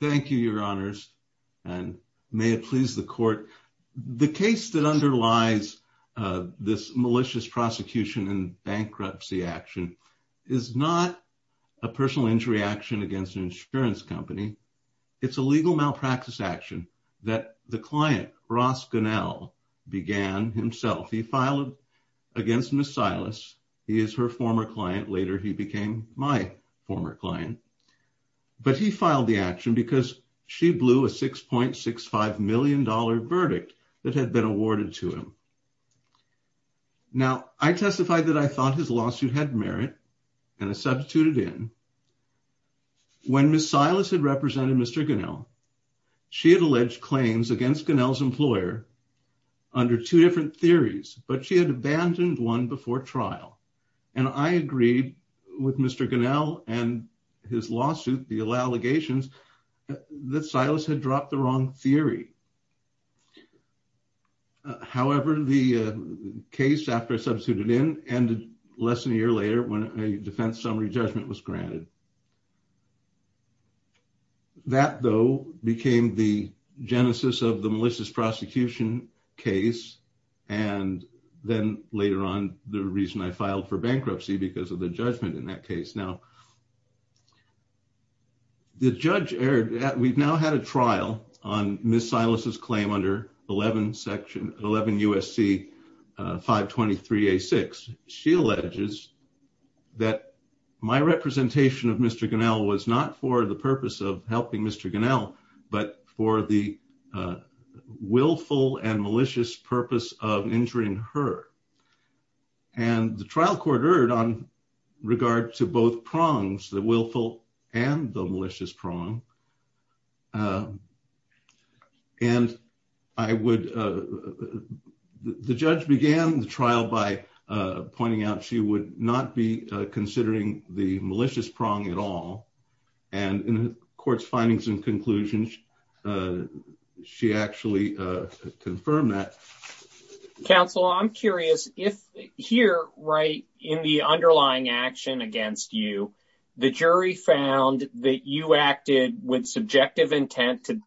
Thank you, your honors, and may it please the court. The case that underlies this malicious prosecution and bankruptcy action is not a personal injury action against an insurance company. It's a legal malpractice action that the client, Ross Gunnell, began himself. He filed against Ms. Silas. He is her former client. Later, he became my former client. But he filed the action because she blew a $6.65 million verdict that had been awarded to him. Now, I testified that I thought his lawsuit had merit and I substituted in. When Ms. Silas had represented Mr. Gunnell, she had alleged claims against Gunnell's employer under two different theories, but she had abandoned one before trial. And I agreed with Mr. Gunnell and his lawsuit, the allegations, that Silas had dropped the wrong theory. However, the case, after I substituted in, ended less than a year later when a defense summary judgment was granted. That, though, became the genesis of the malicious prosecution case. And then later on, the reason I filed for bankruptcy because of the judgment in that case. Now, the judge erred. We've now had a trial on Ms. Silas's claim under 11 section 11 USC 523A6. She alleges that my representation of Mr. Gunnell was not for the purpose of helping Mr. Gunnell, but for the willful and malicious purpose of injuring her. And the trial court erred on regard to both prongs, the willful and the malicious prong. And I would, the judge began the trial by pointing out she would not be considering the malicious prong at all. And in the court's findings and conclusions, she actually confirmed that. Counsel, I'm curious if here, right in the underlying action against you, the jury found that you acted with subjective intent to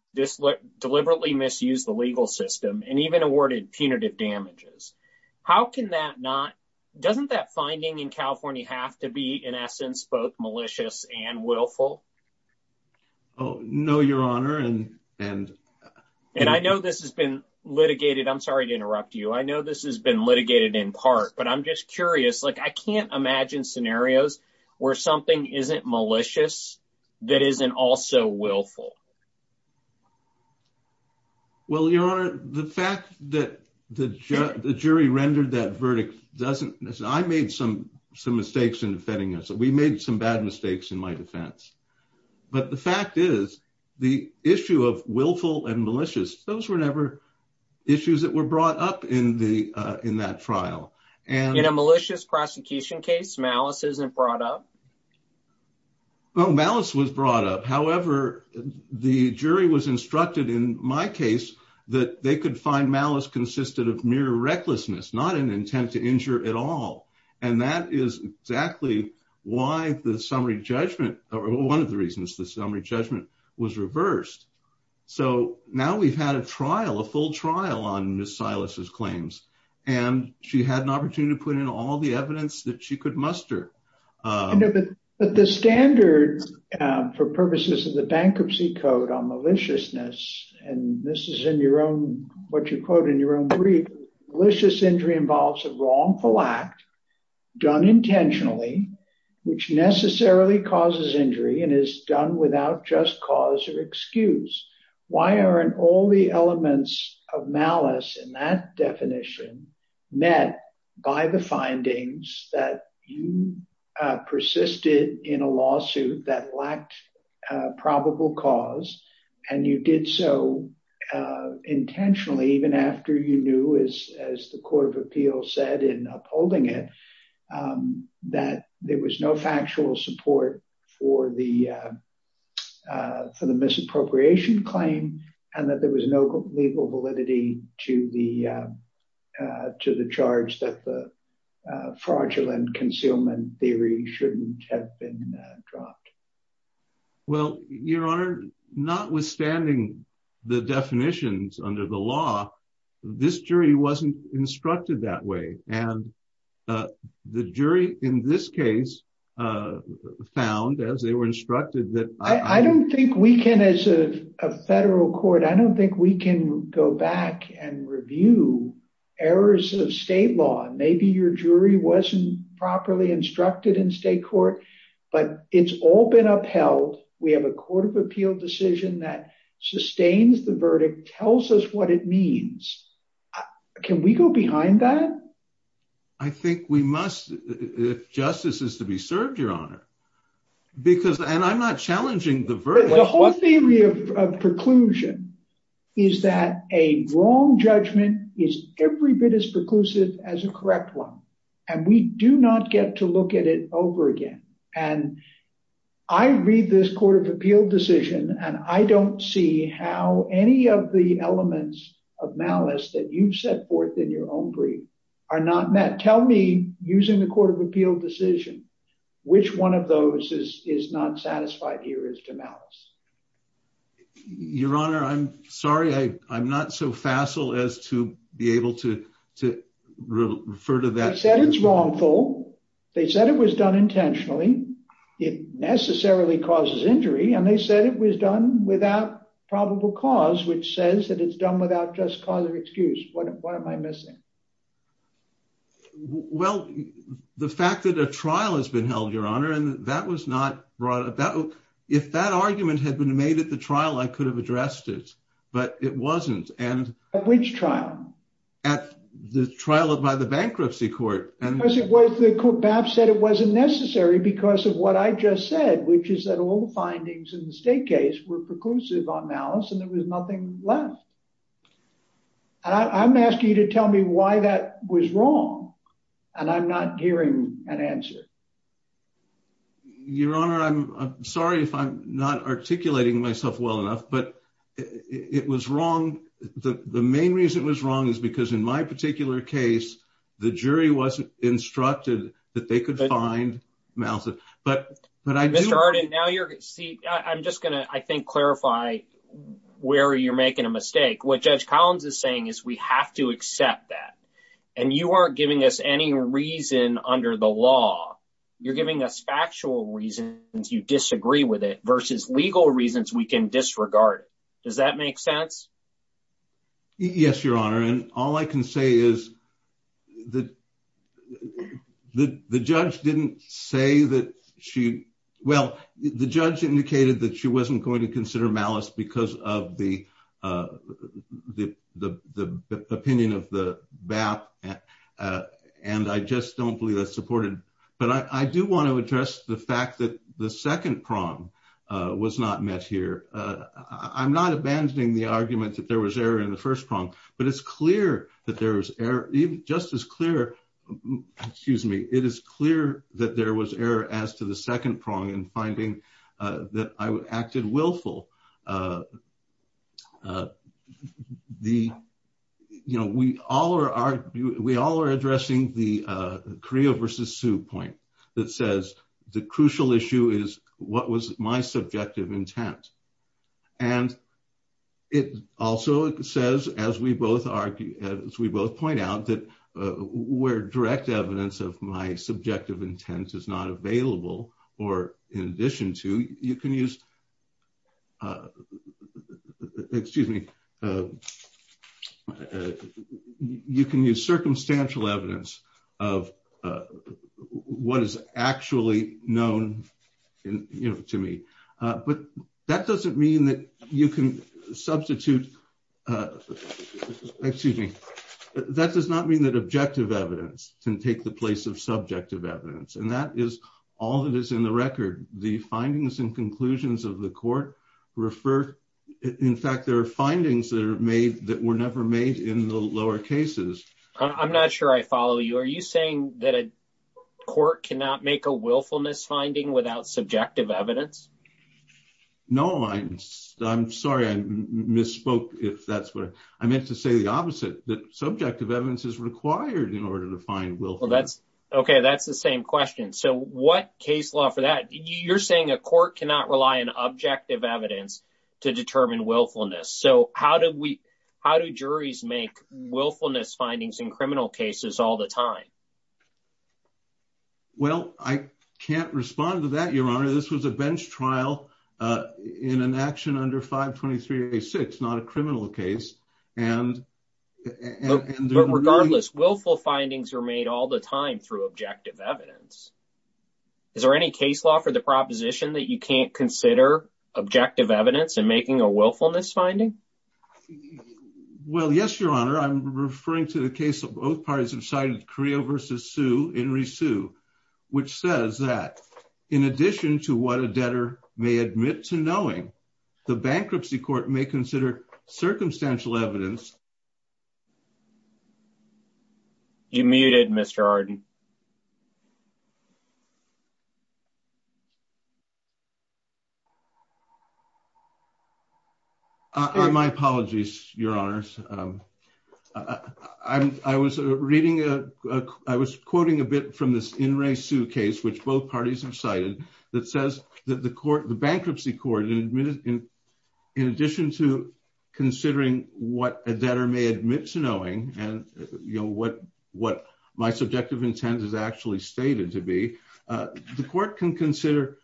deliberately misuse the legal system and even awarded punitive damages. How can that not, doesn't that finding in California have to be in essence, both malicious and willful? Oh, no, your honor. And I know this has been litigated. I'm sorry to interrupt you. I know this has been litigated in part, but I'm just curious. Like I can't imagine scenarios where something isn't malicious, that isn't also willful. Well, your honor, the fact that the jury rendered that verdict doesn't, I made some mistakes in defending us. We made some bad mistakes in my defense, but the fact is the issue of willful and malicious, those were never issues that were brought up in that trial. And in a malicious prosecution case, malice isn't brought up? No, malice was brought up. However, the jury was instructed in my case that they could find consisted of mere recklessness, not an intent to injure at all. And that is exactly why the summary judgment, or one of the reasons the summary judgment was reversed. So now we've had a trial, a full trial on Ms. Silas's claims, and she had an opportunity to put in all the evidence that she could muster. But the standard for purposes of the bankruptcy code on maliciousness, and this is in your own, what you quote in your own brief, malicious injury involves a wrongful act done intentionally, which necessarily causes injury and is done without just cause or excuse. Why aren't all the elements of malice in that definition met by the findings that you persisted in a lawsuit that lacked probable cause, and you did so intentionally, even after you knew, as the Court of Appeals said in upholding it, that there was no factual support for the misappropriation claim, and that there was no legal validity to the charge that the fraudulent concealment theory shouldn't have been dropped? Well, Your Honor, notwithstanding the definitions under the law, this jury wasn't instructed that way. And the jury in this case found, as they were instructed that... I don't think we can, as a federal court, I don't think we can go back and review errors of state law. Maybe your jury wasn't properly instructed in state court, but it's all been upheld. We have a Court of Appeal decision that sustains the verdict, tells us what it means. Can we go behind that? I think we must, if justice is to be served, Your Honor. Because, and I'm not challenging the verdict. The whole theory of preclusion is that a wrong judgment is every bit as preclusive as a correct one, and we do not get to look at it over again. And I read this Court of Appeal decision, and I don't see how any of the elements of malice that you've set forth in your own brief are not met. Tell me, using the Court of Appeal decision, which one of those is not satisfied here as to malice? Your Honor, I'm sorry. I'm not so facile as to be able to refer to that... They said it's wrongful. They said it was done intentionally. It necessarily causes injury. And they said it was done without probable cause, which says that it's done without just cause or excuse. What am I missing? Well, the fact that a trial has been held, Your Honor, and that was not brought about... If that argument had been made at the trial, I could have addressed it, but it wasn't. And... At which trial? At the trial by the bankruptcy court. Because it was, the court perhaps said it wasn't necessary because of what I just said, which is that all the findings in the state case were preclusive on malice, and there was nothing left. And I'm asking you to tell me why that was wrong, and I'm not hearing an answer. Your Honor, I'm sorry if I'm not articulating myself well enough, but it was wrong. The main reason it was wrong is because in my particular case, the jury wasn't instructed that they could find malice. But I do... Mr. Arden, now you're... See, I'm just gonna, I think, clarify where you're making a mistake. What Judge Collins is saying is we have to accept that. And you aren't giving us any reason under the law. You're giving us factual reasons you disagree with it versus legal reasons we can disregard it. Does that make sense? Yes, Your Honor. And all I can say is that the judge didn't say that she... Well, the judge indicated that she wasn't going to consider malice because of the opinion of the BAP, and I just don't believe that's supported. But I do want to address the fact that the second prong was not met here. I'm not abandoning the argument that there was error in the first prong, but it's clear that there was error, just as clear, excuse me, it is clear that there was error as to the second prong in finding that I acted willful. We all are addressing the Carrillo versus Sue point that says the crucial issue is what was my subjective intent. And it also says, as we both point out, that where direct evidence of my subjective intent is not available, or in addition to, you can use, excuse me, you can use circumstantial evidence of what is actually known to me. But that doesn't mean that you can substitute, excuse me, that does not mean that objective evidence can take the place of subjective evidence. And that is all that is in the record. The findings and conclusions of the court refer, in fact, there are findings that are made that were never made in the lower cases. I'm not sure I follow you. Are you saying that a court cannot make a willfulness finding without subjective evidence? No, I'm sorry, I misspoke if that's what I meant to say the opposite, that subjective evidence is required in order to find willful. That's okay. That's the same question. So what case law for that? You're saying a court cannot rely on objective evidence to determine willfulness. So how do we, how do juries make willfulness findings in criminal cases all the time? Well, I can't respond to that, Your Honor. This was a bench trial in an action under 523A6, not a criminal case. But regardless, willful findings are made all the time through objective evidence. Is there any case law for the proposition that you can't consider objective evidence in making a willfulness finding? Well, yes, Your Honor. I'm referring to the case of both parties have cited Carrillo v. Sue, Henry Sue, which says that in addition to what a debtor may admit to knowing, the bankruptcy court may consider circumstantial evidence. You're muted, Mr. Arden. My apologies, Your Honors. I was reading, I was quoting a bit from this Henry Sue case, which both parties have cited, that says that the bankruptcy court, in addition to considering what a debtor may admit to knowing, and what my subjective intent is actually stated to be, the court can consider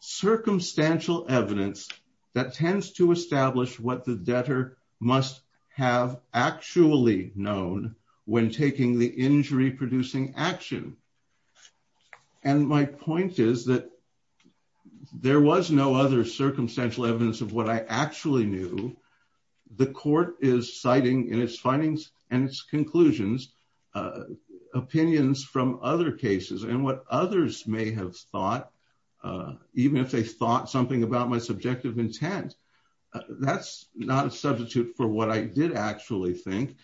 circumstantial evidence that tends to establish what the debtor must have actually known when taking the injury-producing action. And my point is that there was no other circumstantial evidence of what I actually knew. The court is citing, in its findings and its conclusions, opinions from other cases, and what others may have thought, even if they thought something about my subjective intent, that's not a substitute for what I did actually think.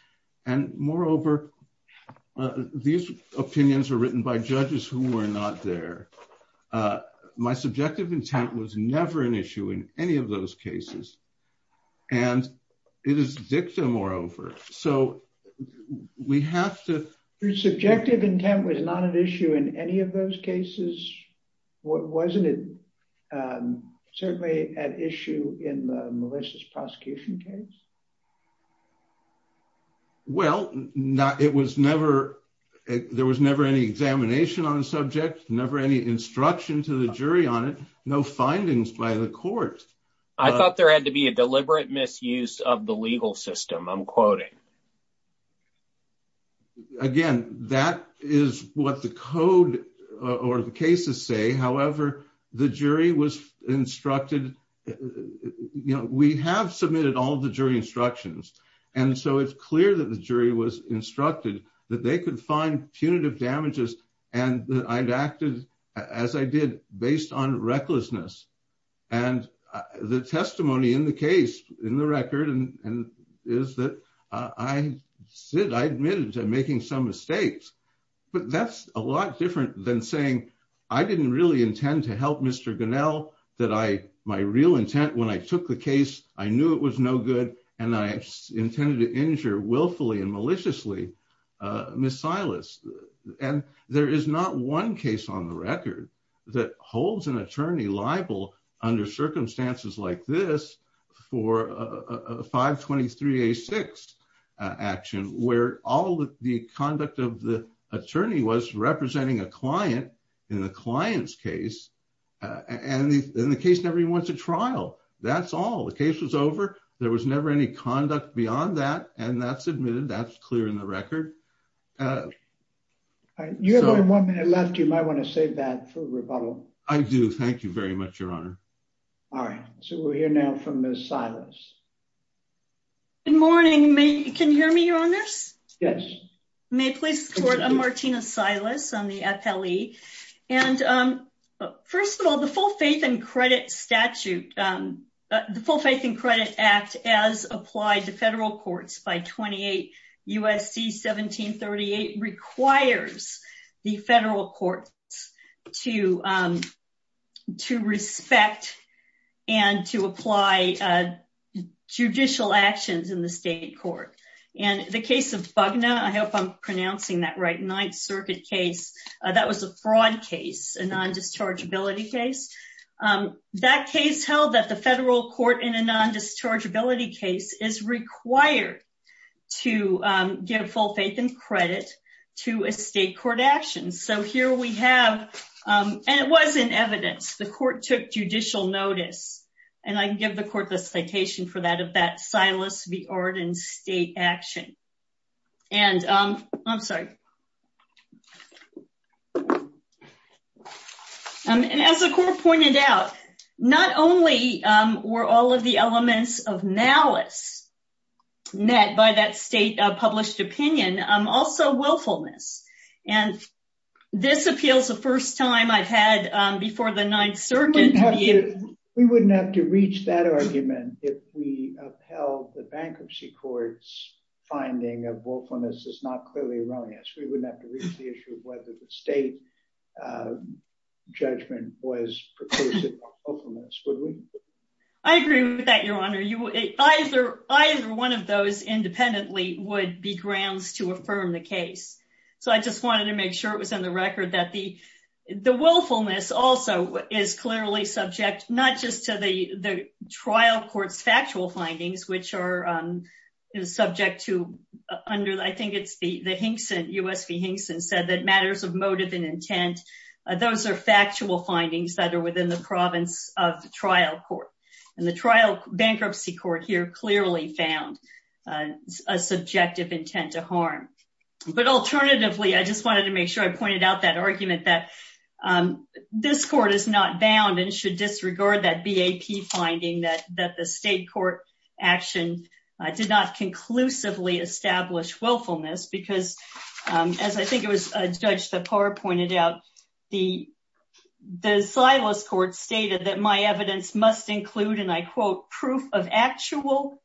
And moreover, these opinions were written by judges who were not there. My subjective intent was never an issue in any of those cases. And it is dicta, moreover. So we have to... Your subjective intent was not an issue in any of the malicious prosecution cases? Well, there was never any examination on the subject, never any instruction to the jury on it, no findings by the court. I thought there had to be a deliberate misuse of the legal system, I'm quoting. Again, that is what the code or the cases say. However, the jury was instructed that we have submitted all the jury instructions. And so it's clear that the jury was instructed that they could find punitive damages, and that I'd acted as I did based on recklessness. And the testimony in the case, in the record, is that I admitted to making some mistakes. But that's a lot different than saying, I didn't really intend to help Mr. Gunnell, that my real intent when I took the case, I knew it was no good, and I intended to injure willfully and maliciously Ms. Silas. And there is not one case on the record that holds an attorney liable under circumstances like this for a 523A6 action, where all the conduct of the attorney was representing a client in the client's case, and the case never even went to trial. That's all, the case was over, there was never any conduct beyond that, and that's admitted, that's clear in the record. You have one minute left, you might want to save that for rebuttal. I do, thank you very much, Your Honor. All right, so we'll hear now from Ms. Silas. Good morning, can you hear me, Your Honors? Yes. May it please the Court, I'm Martina Silas, I'm the FLE. And first of all, the Full Faith and Credit Statute, the Full Faith and Credit Act, as applied to federal courts by 28 USC 1738, requires the federal courts to respect and to apply judicial actions in the state court. And the case of Bugna, I hope I'm pronouncing that right, Ninth Circuit case, that was a fraud case, a non-dischargeability case. That case held that the federal court in a non-dischargeability case is required to give full faith and credit to a state court action. So here we have, and it was in evidence, the court took judicial notice, and I can give the court citation for that, of that Silas v. Arden state action. And, I'm sorry, and as the court pointed out, not only were all of the elements of malice met by that state published opinion, also willfulness. And this appeals the first time I've had before the Ninth Circuit. We wouldn't have to reach that argument if we upheld the bankruptcy court's finding of willfulness as not clearly erroneous. We wouldn't have to reach the issue of whether the state judgment was preclusive of willfulness, would we? I agree with that, Your Honor. Either one of those independently would be grounds to affirm the case. So I just also is clearly subject not just to the trial court's factual findings, which are subject to under, I think it's the Hinkson, U.S. v. Hinkson said that matters of motive and intent, those are factual findings that are within the province of trial court. And the trial bankruptcy court here clearly found a subjective intent to harm. But alternatively, I just wanted to make sure I pointed out that argument that this court is not bound and should disregard that BAP finding that the state court action did not conclusively establish willfulness because, as I think it was a judge that pointed out, the Silas court stated that my evidence must include, and I quote, proof of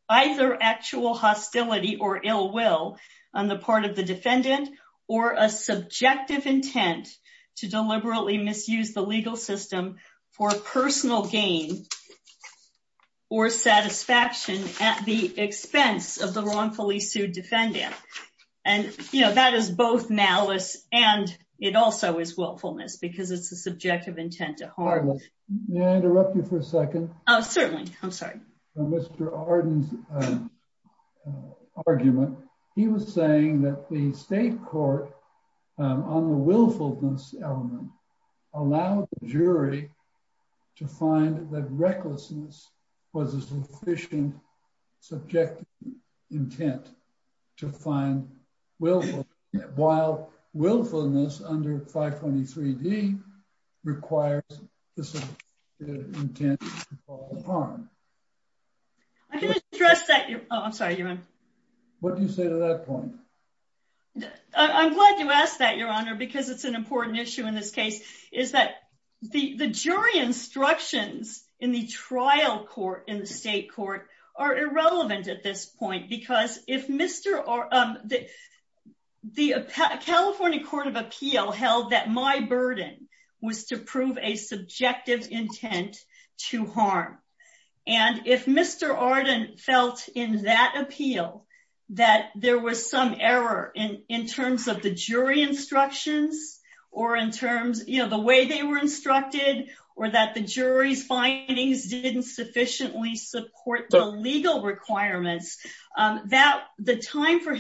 either actual hostility or ill will on the part of the defendant or a subjective intent to deliberately misuse the legal system for personal gain or satisfaction at the expense of the wrongfully sued defendant. And, you know, that is both malice and it also is willfulness because it's a subjective intent to harm. May I interrupt you for a second? Oh, certainly. I'm sorry. Mr. Arden's argument, he was saying that the state court on the willfulness element allowed the jury to find that recklessness was a sufficient subjective intent to find willfulness, while I'm sorry. What do you say to that point? I'm glad you asked that, Your Honor, because it's an important issue in this case is that the jury instructions in the trial court in the state court are irrelevant at this point because if Mr. Arden, the California Court of Appeal held that my burden was to prove a subjective intent to harm, and if Mr. Arden felt in that appeal that there was some error in terms of the jury instructions or in terms, you know, the way they were instructed or that the jury's findings didn't sufficiently support the legal requirements, that the time for the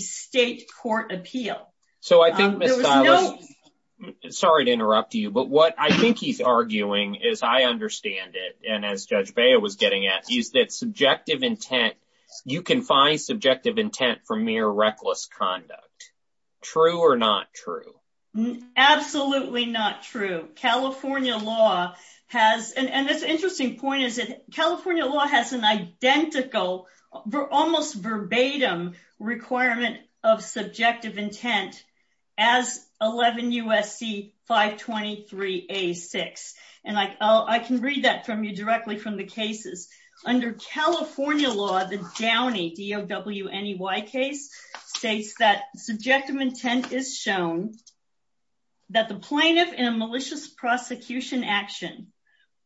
state court appeal. So I think, Ms. Stiles, sorry to interrupt you, but what I think he's arguing is, I understand it, and as Judge Bea was getting at, is that subjective intent, you can find subjective intent for mere reckless conduct. True or not true? Absolutely not true. California law has, and this interesting point is that California law has an identical, almost verbatim requirement of subjective intent as 11 U.S.C. 523-A-6, and I can read that from you directly from the cases. Under California law, the Downey, D-O-W-N-E-Y case states that subjective intent is shown that the plaintiff in a malicious prosecution action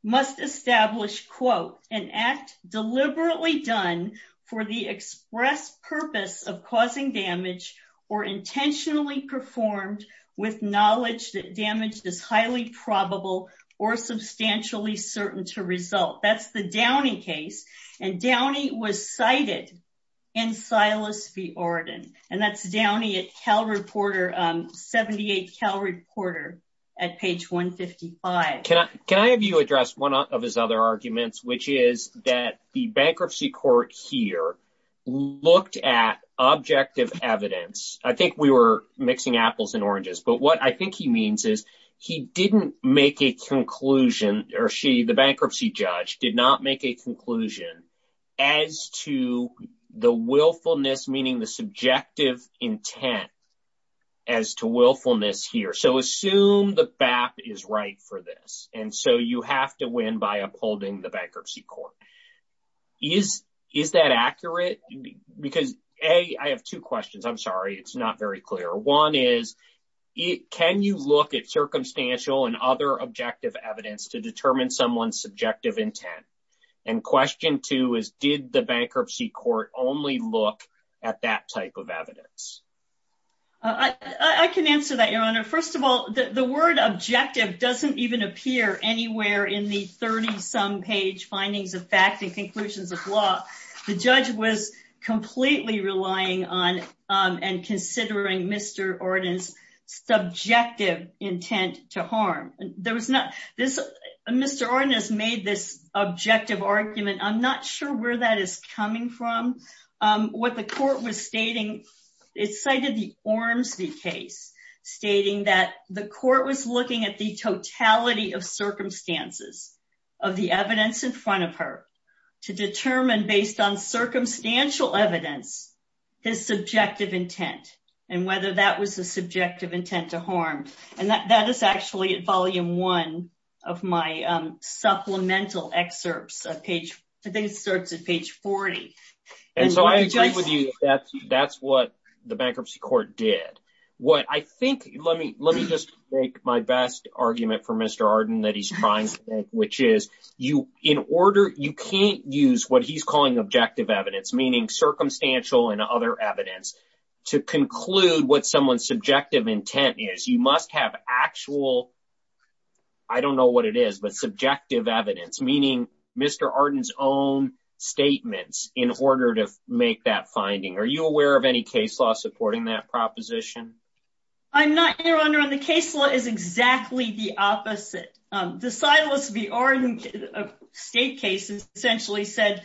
must establish, quote, an act deliberately done for the express purpose of causing damage or intentionally performed with knowledge that damage is highly probable or substantially certain to result. That's the Downey case, and Downey was cited in Silas v. Arden, and that's Downey at Cal Reporter at page 155. Can I have you address one of his other arguments, which is that the bankruptcy court here looked at objective evidence. I think we were mixing apples and oranges, but what I think he means is he didn't make a conclusion, or she, the bankruptcy judge, did not make a conclusion as to the willfulness, meaning the subjective intent as to willfulness here. So assume the BAP is right for this, and so you have to win by upholding the bankruptcy court. Is that accurate? Because, A, I have two questions. I'm sorry, it's not very clear. One is, can you look at circumstantial and other objective evidence to determine someone's subjective intent? And question two is, did the bankruptcy court only look at that type of evidence? I can answer that, Your Honor. First of all, the word objective doesn't even appear anywhere in the 30-some page findings of fact and conclusions of law. The judge was completely relying on and considering Mr. Arden's subjective intent to harm. Mr. Arden has made this objective Ormsby case, stating that the court was looking at the totality of circumstances of the evidence in front of her to determine, based on circumstantial evidence, his subjective intent and whether that was a subjective intent to harm. And that is actually at volume one of my supplemental excerpts. I think it starts at page 40. And so I agree with you that's what the bankruptcy court did. What I think, let me just make my best argument for Mr. Arden that he's trying to make, which is, you can't use what he's calling objective evidence, meaning circumstantial and other evidence, to conclude what someone's subjective intent is. You must have actual, I don't know what it is, but subjective evidence, meaning Mr. Arden's own statements, in order to make that finding. Are you aware of any case law supporting that proposition? I'm not, Your Honor, and the case law is exactly the opposite. The Silas v. Arden state case essentially said,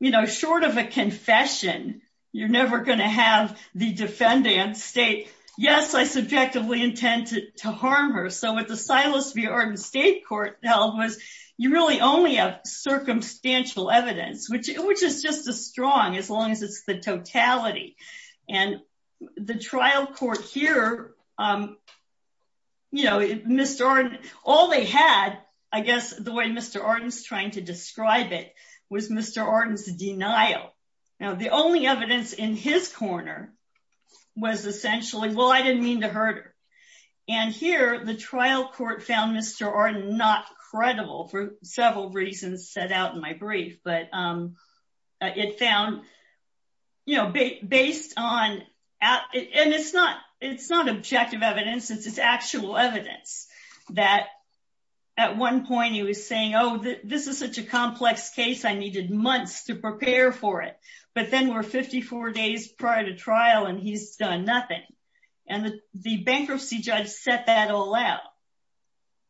you know, short of a confession, you're never going to have the defendant state, yes, I subjectively intended to harm her. So what the Silas v. Arden state held was, you really only have circumstantial evidence, which is just as strong as long as it's the totality. And the trial court here, you know, Mr. Arden, all they had, I guess, the way Mr. Arden's trying to describe it, was Mr. Arden's denial. Now the only evidence in his corner was essentially, well, I didn't mean to hurt her. And here, the trial court found Mr. Arden not credible, for several reasons set out in my brief. But it found, you know, based on, and it's not, it's not objective evidence, it's actual evidence, that at one point he was saying, oh, this is such a complex case, I needed months to prepare for it. But then we're 54 days prior to trial, and he's done nothing. And the bankruptcy judge set that all out,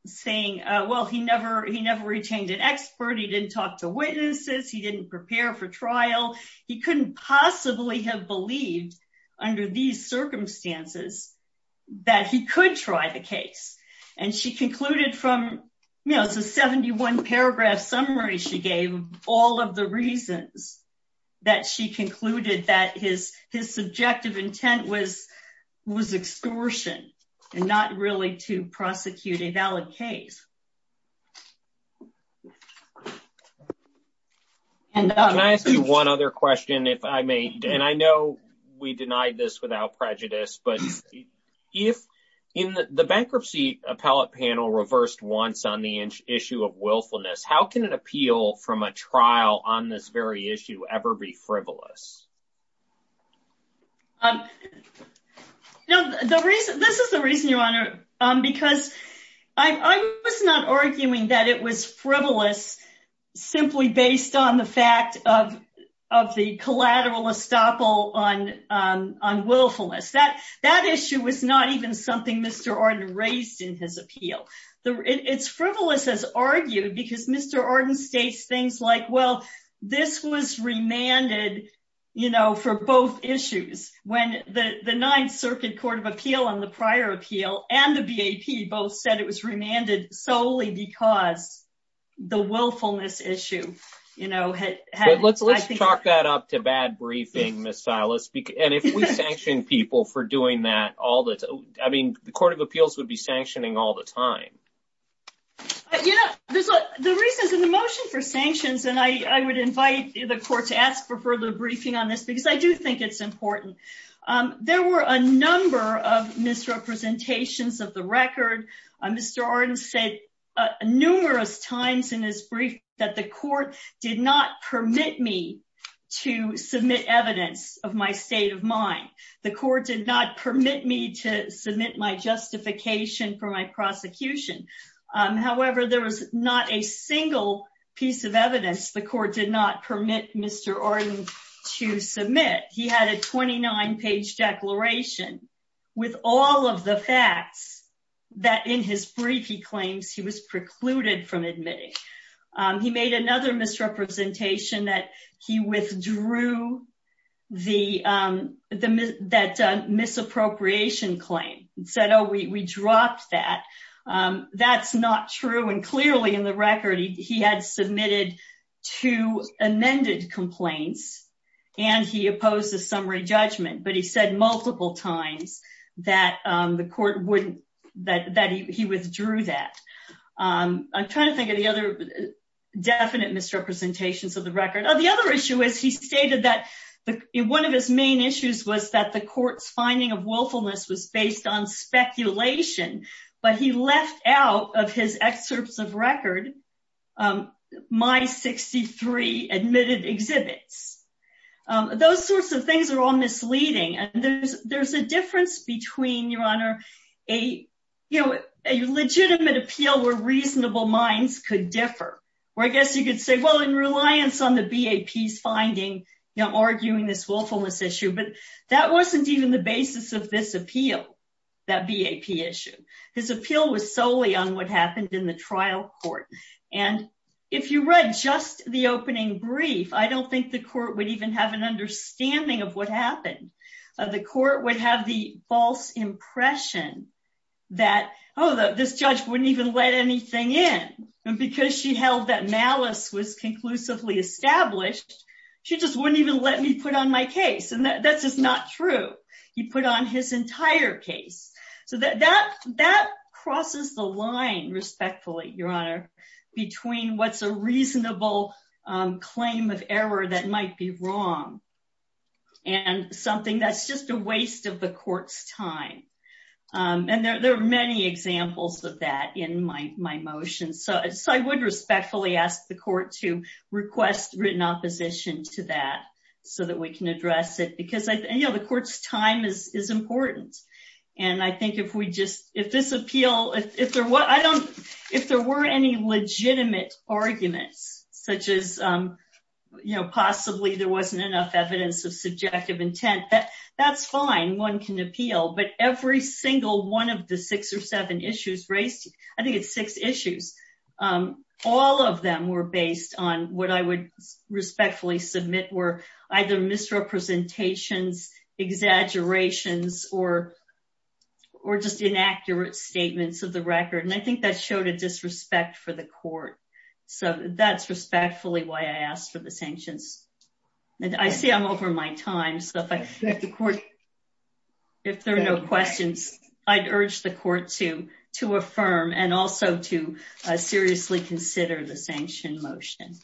saying, well, he never, he never retained an expert, he didn't talk to witnesses, he didn't prepare for trial, he couldn't possibly have believed, under these circumstances, that he could try the case. And she concluded from, you know, it's a 71 paragraph summary, she gave all of the reasons that she concluded that his, his subjective intent was, was extortion, and not really to prosecute a valid case. Can I ask you one other question, if I may, and I know we denied this without prejudice, but if in the bankruptcy appellate panel reversed once on the issue of willfulness, how can it appeal from a trial on this very issue ever be frivolous? No, the reason, this is the reason, your honor, because I was not arguing that it was frivolous, simply based on the fact of, of the collateral estoppel on, on willfulness. That, that issue was not even something Mr. Arden raised in his appeal. It's frivolous as argued, because Mr. Arden states things like, well, this was remanded, you know, for both issues, when the, the Ninth Circuit Court of Appeal and the prior appeal, and the BAP both said it was remanded solely because the willfulness issue, you know, had. Let's, let's chalk that up to bad briefing, Ms. Silas, and if we sanction people for doing that all the time, I mean, the Court of Appeals would be sanctioning all the time. You know, there's a, the reasons in the motion for sanctions, and I, I would invite the court to ask for further briefing on this, because I do think it's important. There were a number of misrepresentations of the record. Mr. Arden said numerous times in his brief that the court did not permit me to submit evidence of my state of mind. The court did not permit me to submit my justification for my prosecution. However, there was not a single piece of evidence the court did not permit Mr. Arden to submit. He had a 29-page declaration with all of the facts that in his brief he claims he was precluded from that misappropriation claim. He said, oh, we dropped that. That's not true, and clearly in the record he had submitted two amended complaints, and he opposed a summary judgment, but he said multiple times that the court wouldn't, that he withdrew that. I'm trying to think of the other definite misrepresentations of the record. Oh, the other issue is he stated that one of his main issues was that the court's finding of willfulness was based on speculation, but he left out of his excerpts of record my 63 admitted exhibits. Those sorts of things are all misleading, and there's, there's a difference between, Your Honor, a, you know, a legitimate appeal where reasonable minds could differ, where I guess you could say, well, in reliance on the BAP's finding, you know, arguing this willfulness issue, but that wasn't even the basis of this appeal, that BAP issue. His appeal was solely on what happened in the trial court, and if you read just the opening brief, I don't think the court would even have an understanding of what happened. The court would have the false impression that, oh, this judge wouldn't even let anything in, and because she held that malice was conclusively established, she just wouldn't even let me put on my case, and that's just not true. He put on his entire case, so that, that, that crosses the line, respectfully, Your Honor, between what's a reasonable claim of error that might be wrong and something that's just a waste of the court's time, and there, there are many examples of that in my, my motion, so, so I would respectfully ask the court to request written opposition to that, so that we can address it, because I, you know, the court's time is, is important, and I think if we just, if this appeal, if there were, I don't, if there were any legitimate arguments, such as, you know, possibly there wasn't enough evidence of subjective intent, that, that's fine, one can I think it's six issues. All of them were based on what I would respectfully submit were either misrepresentations, exaggerations, or, or just inaccurate statements of the record, and I think that showed a disrespect for the court, so that's respectfully why I asked for the sanctions, and I see I'm over my time, so if I, if the court, if there are no questions, I'd urge the court to, to affirm, and also to seriously consider the sanction motion.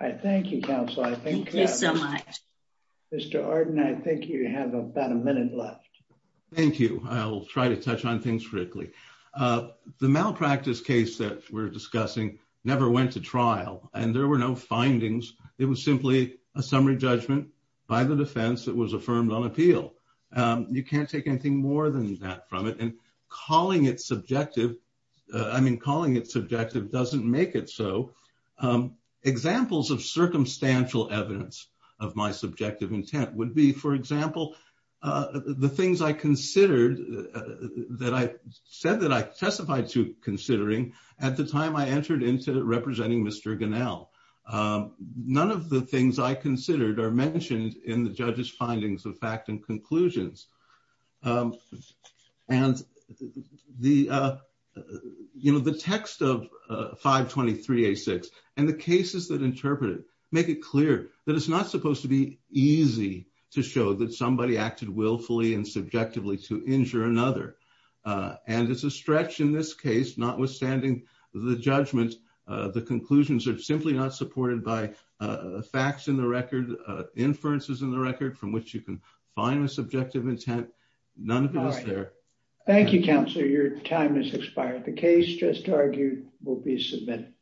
All right, thank you, counsel, I think so much. Mr. Arden, I think you have about a minute left. Thank you. I'll try to touch on things quickly. The malpractice case that we're discussing never went to trial, and there were no findings. It was simply a summary judgment by the defense that was affirmed on appeal. You can't take anything more than that from it, and calling it subjective, I mean, calling it subjective doesn't make it so. Examples of circumstantial evidence of my subjective intent would be, for example, the things I considered that I said that I testified to considering at the time I entered into representing Mr. Ganell. None of the things I considered are mentioned in the judge's findings of fact and conclusions, and the, you know, the text of 523A6 and the cases that interpret it make it clear that it's not supposed to be easy to show that somebody acted willfully and subjectively to injure another, and it's a stretch in this case, notwithstanding the judgment, the conclusions are simply not supported by facts in the record, inferences in the record from which you can find a subjective intent. None of those are there. Thank you, Counselor. Your time has expired. The case just argued will be submitted.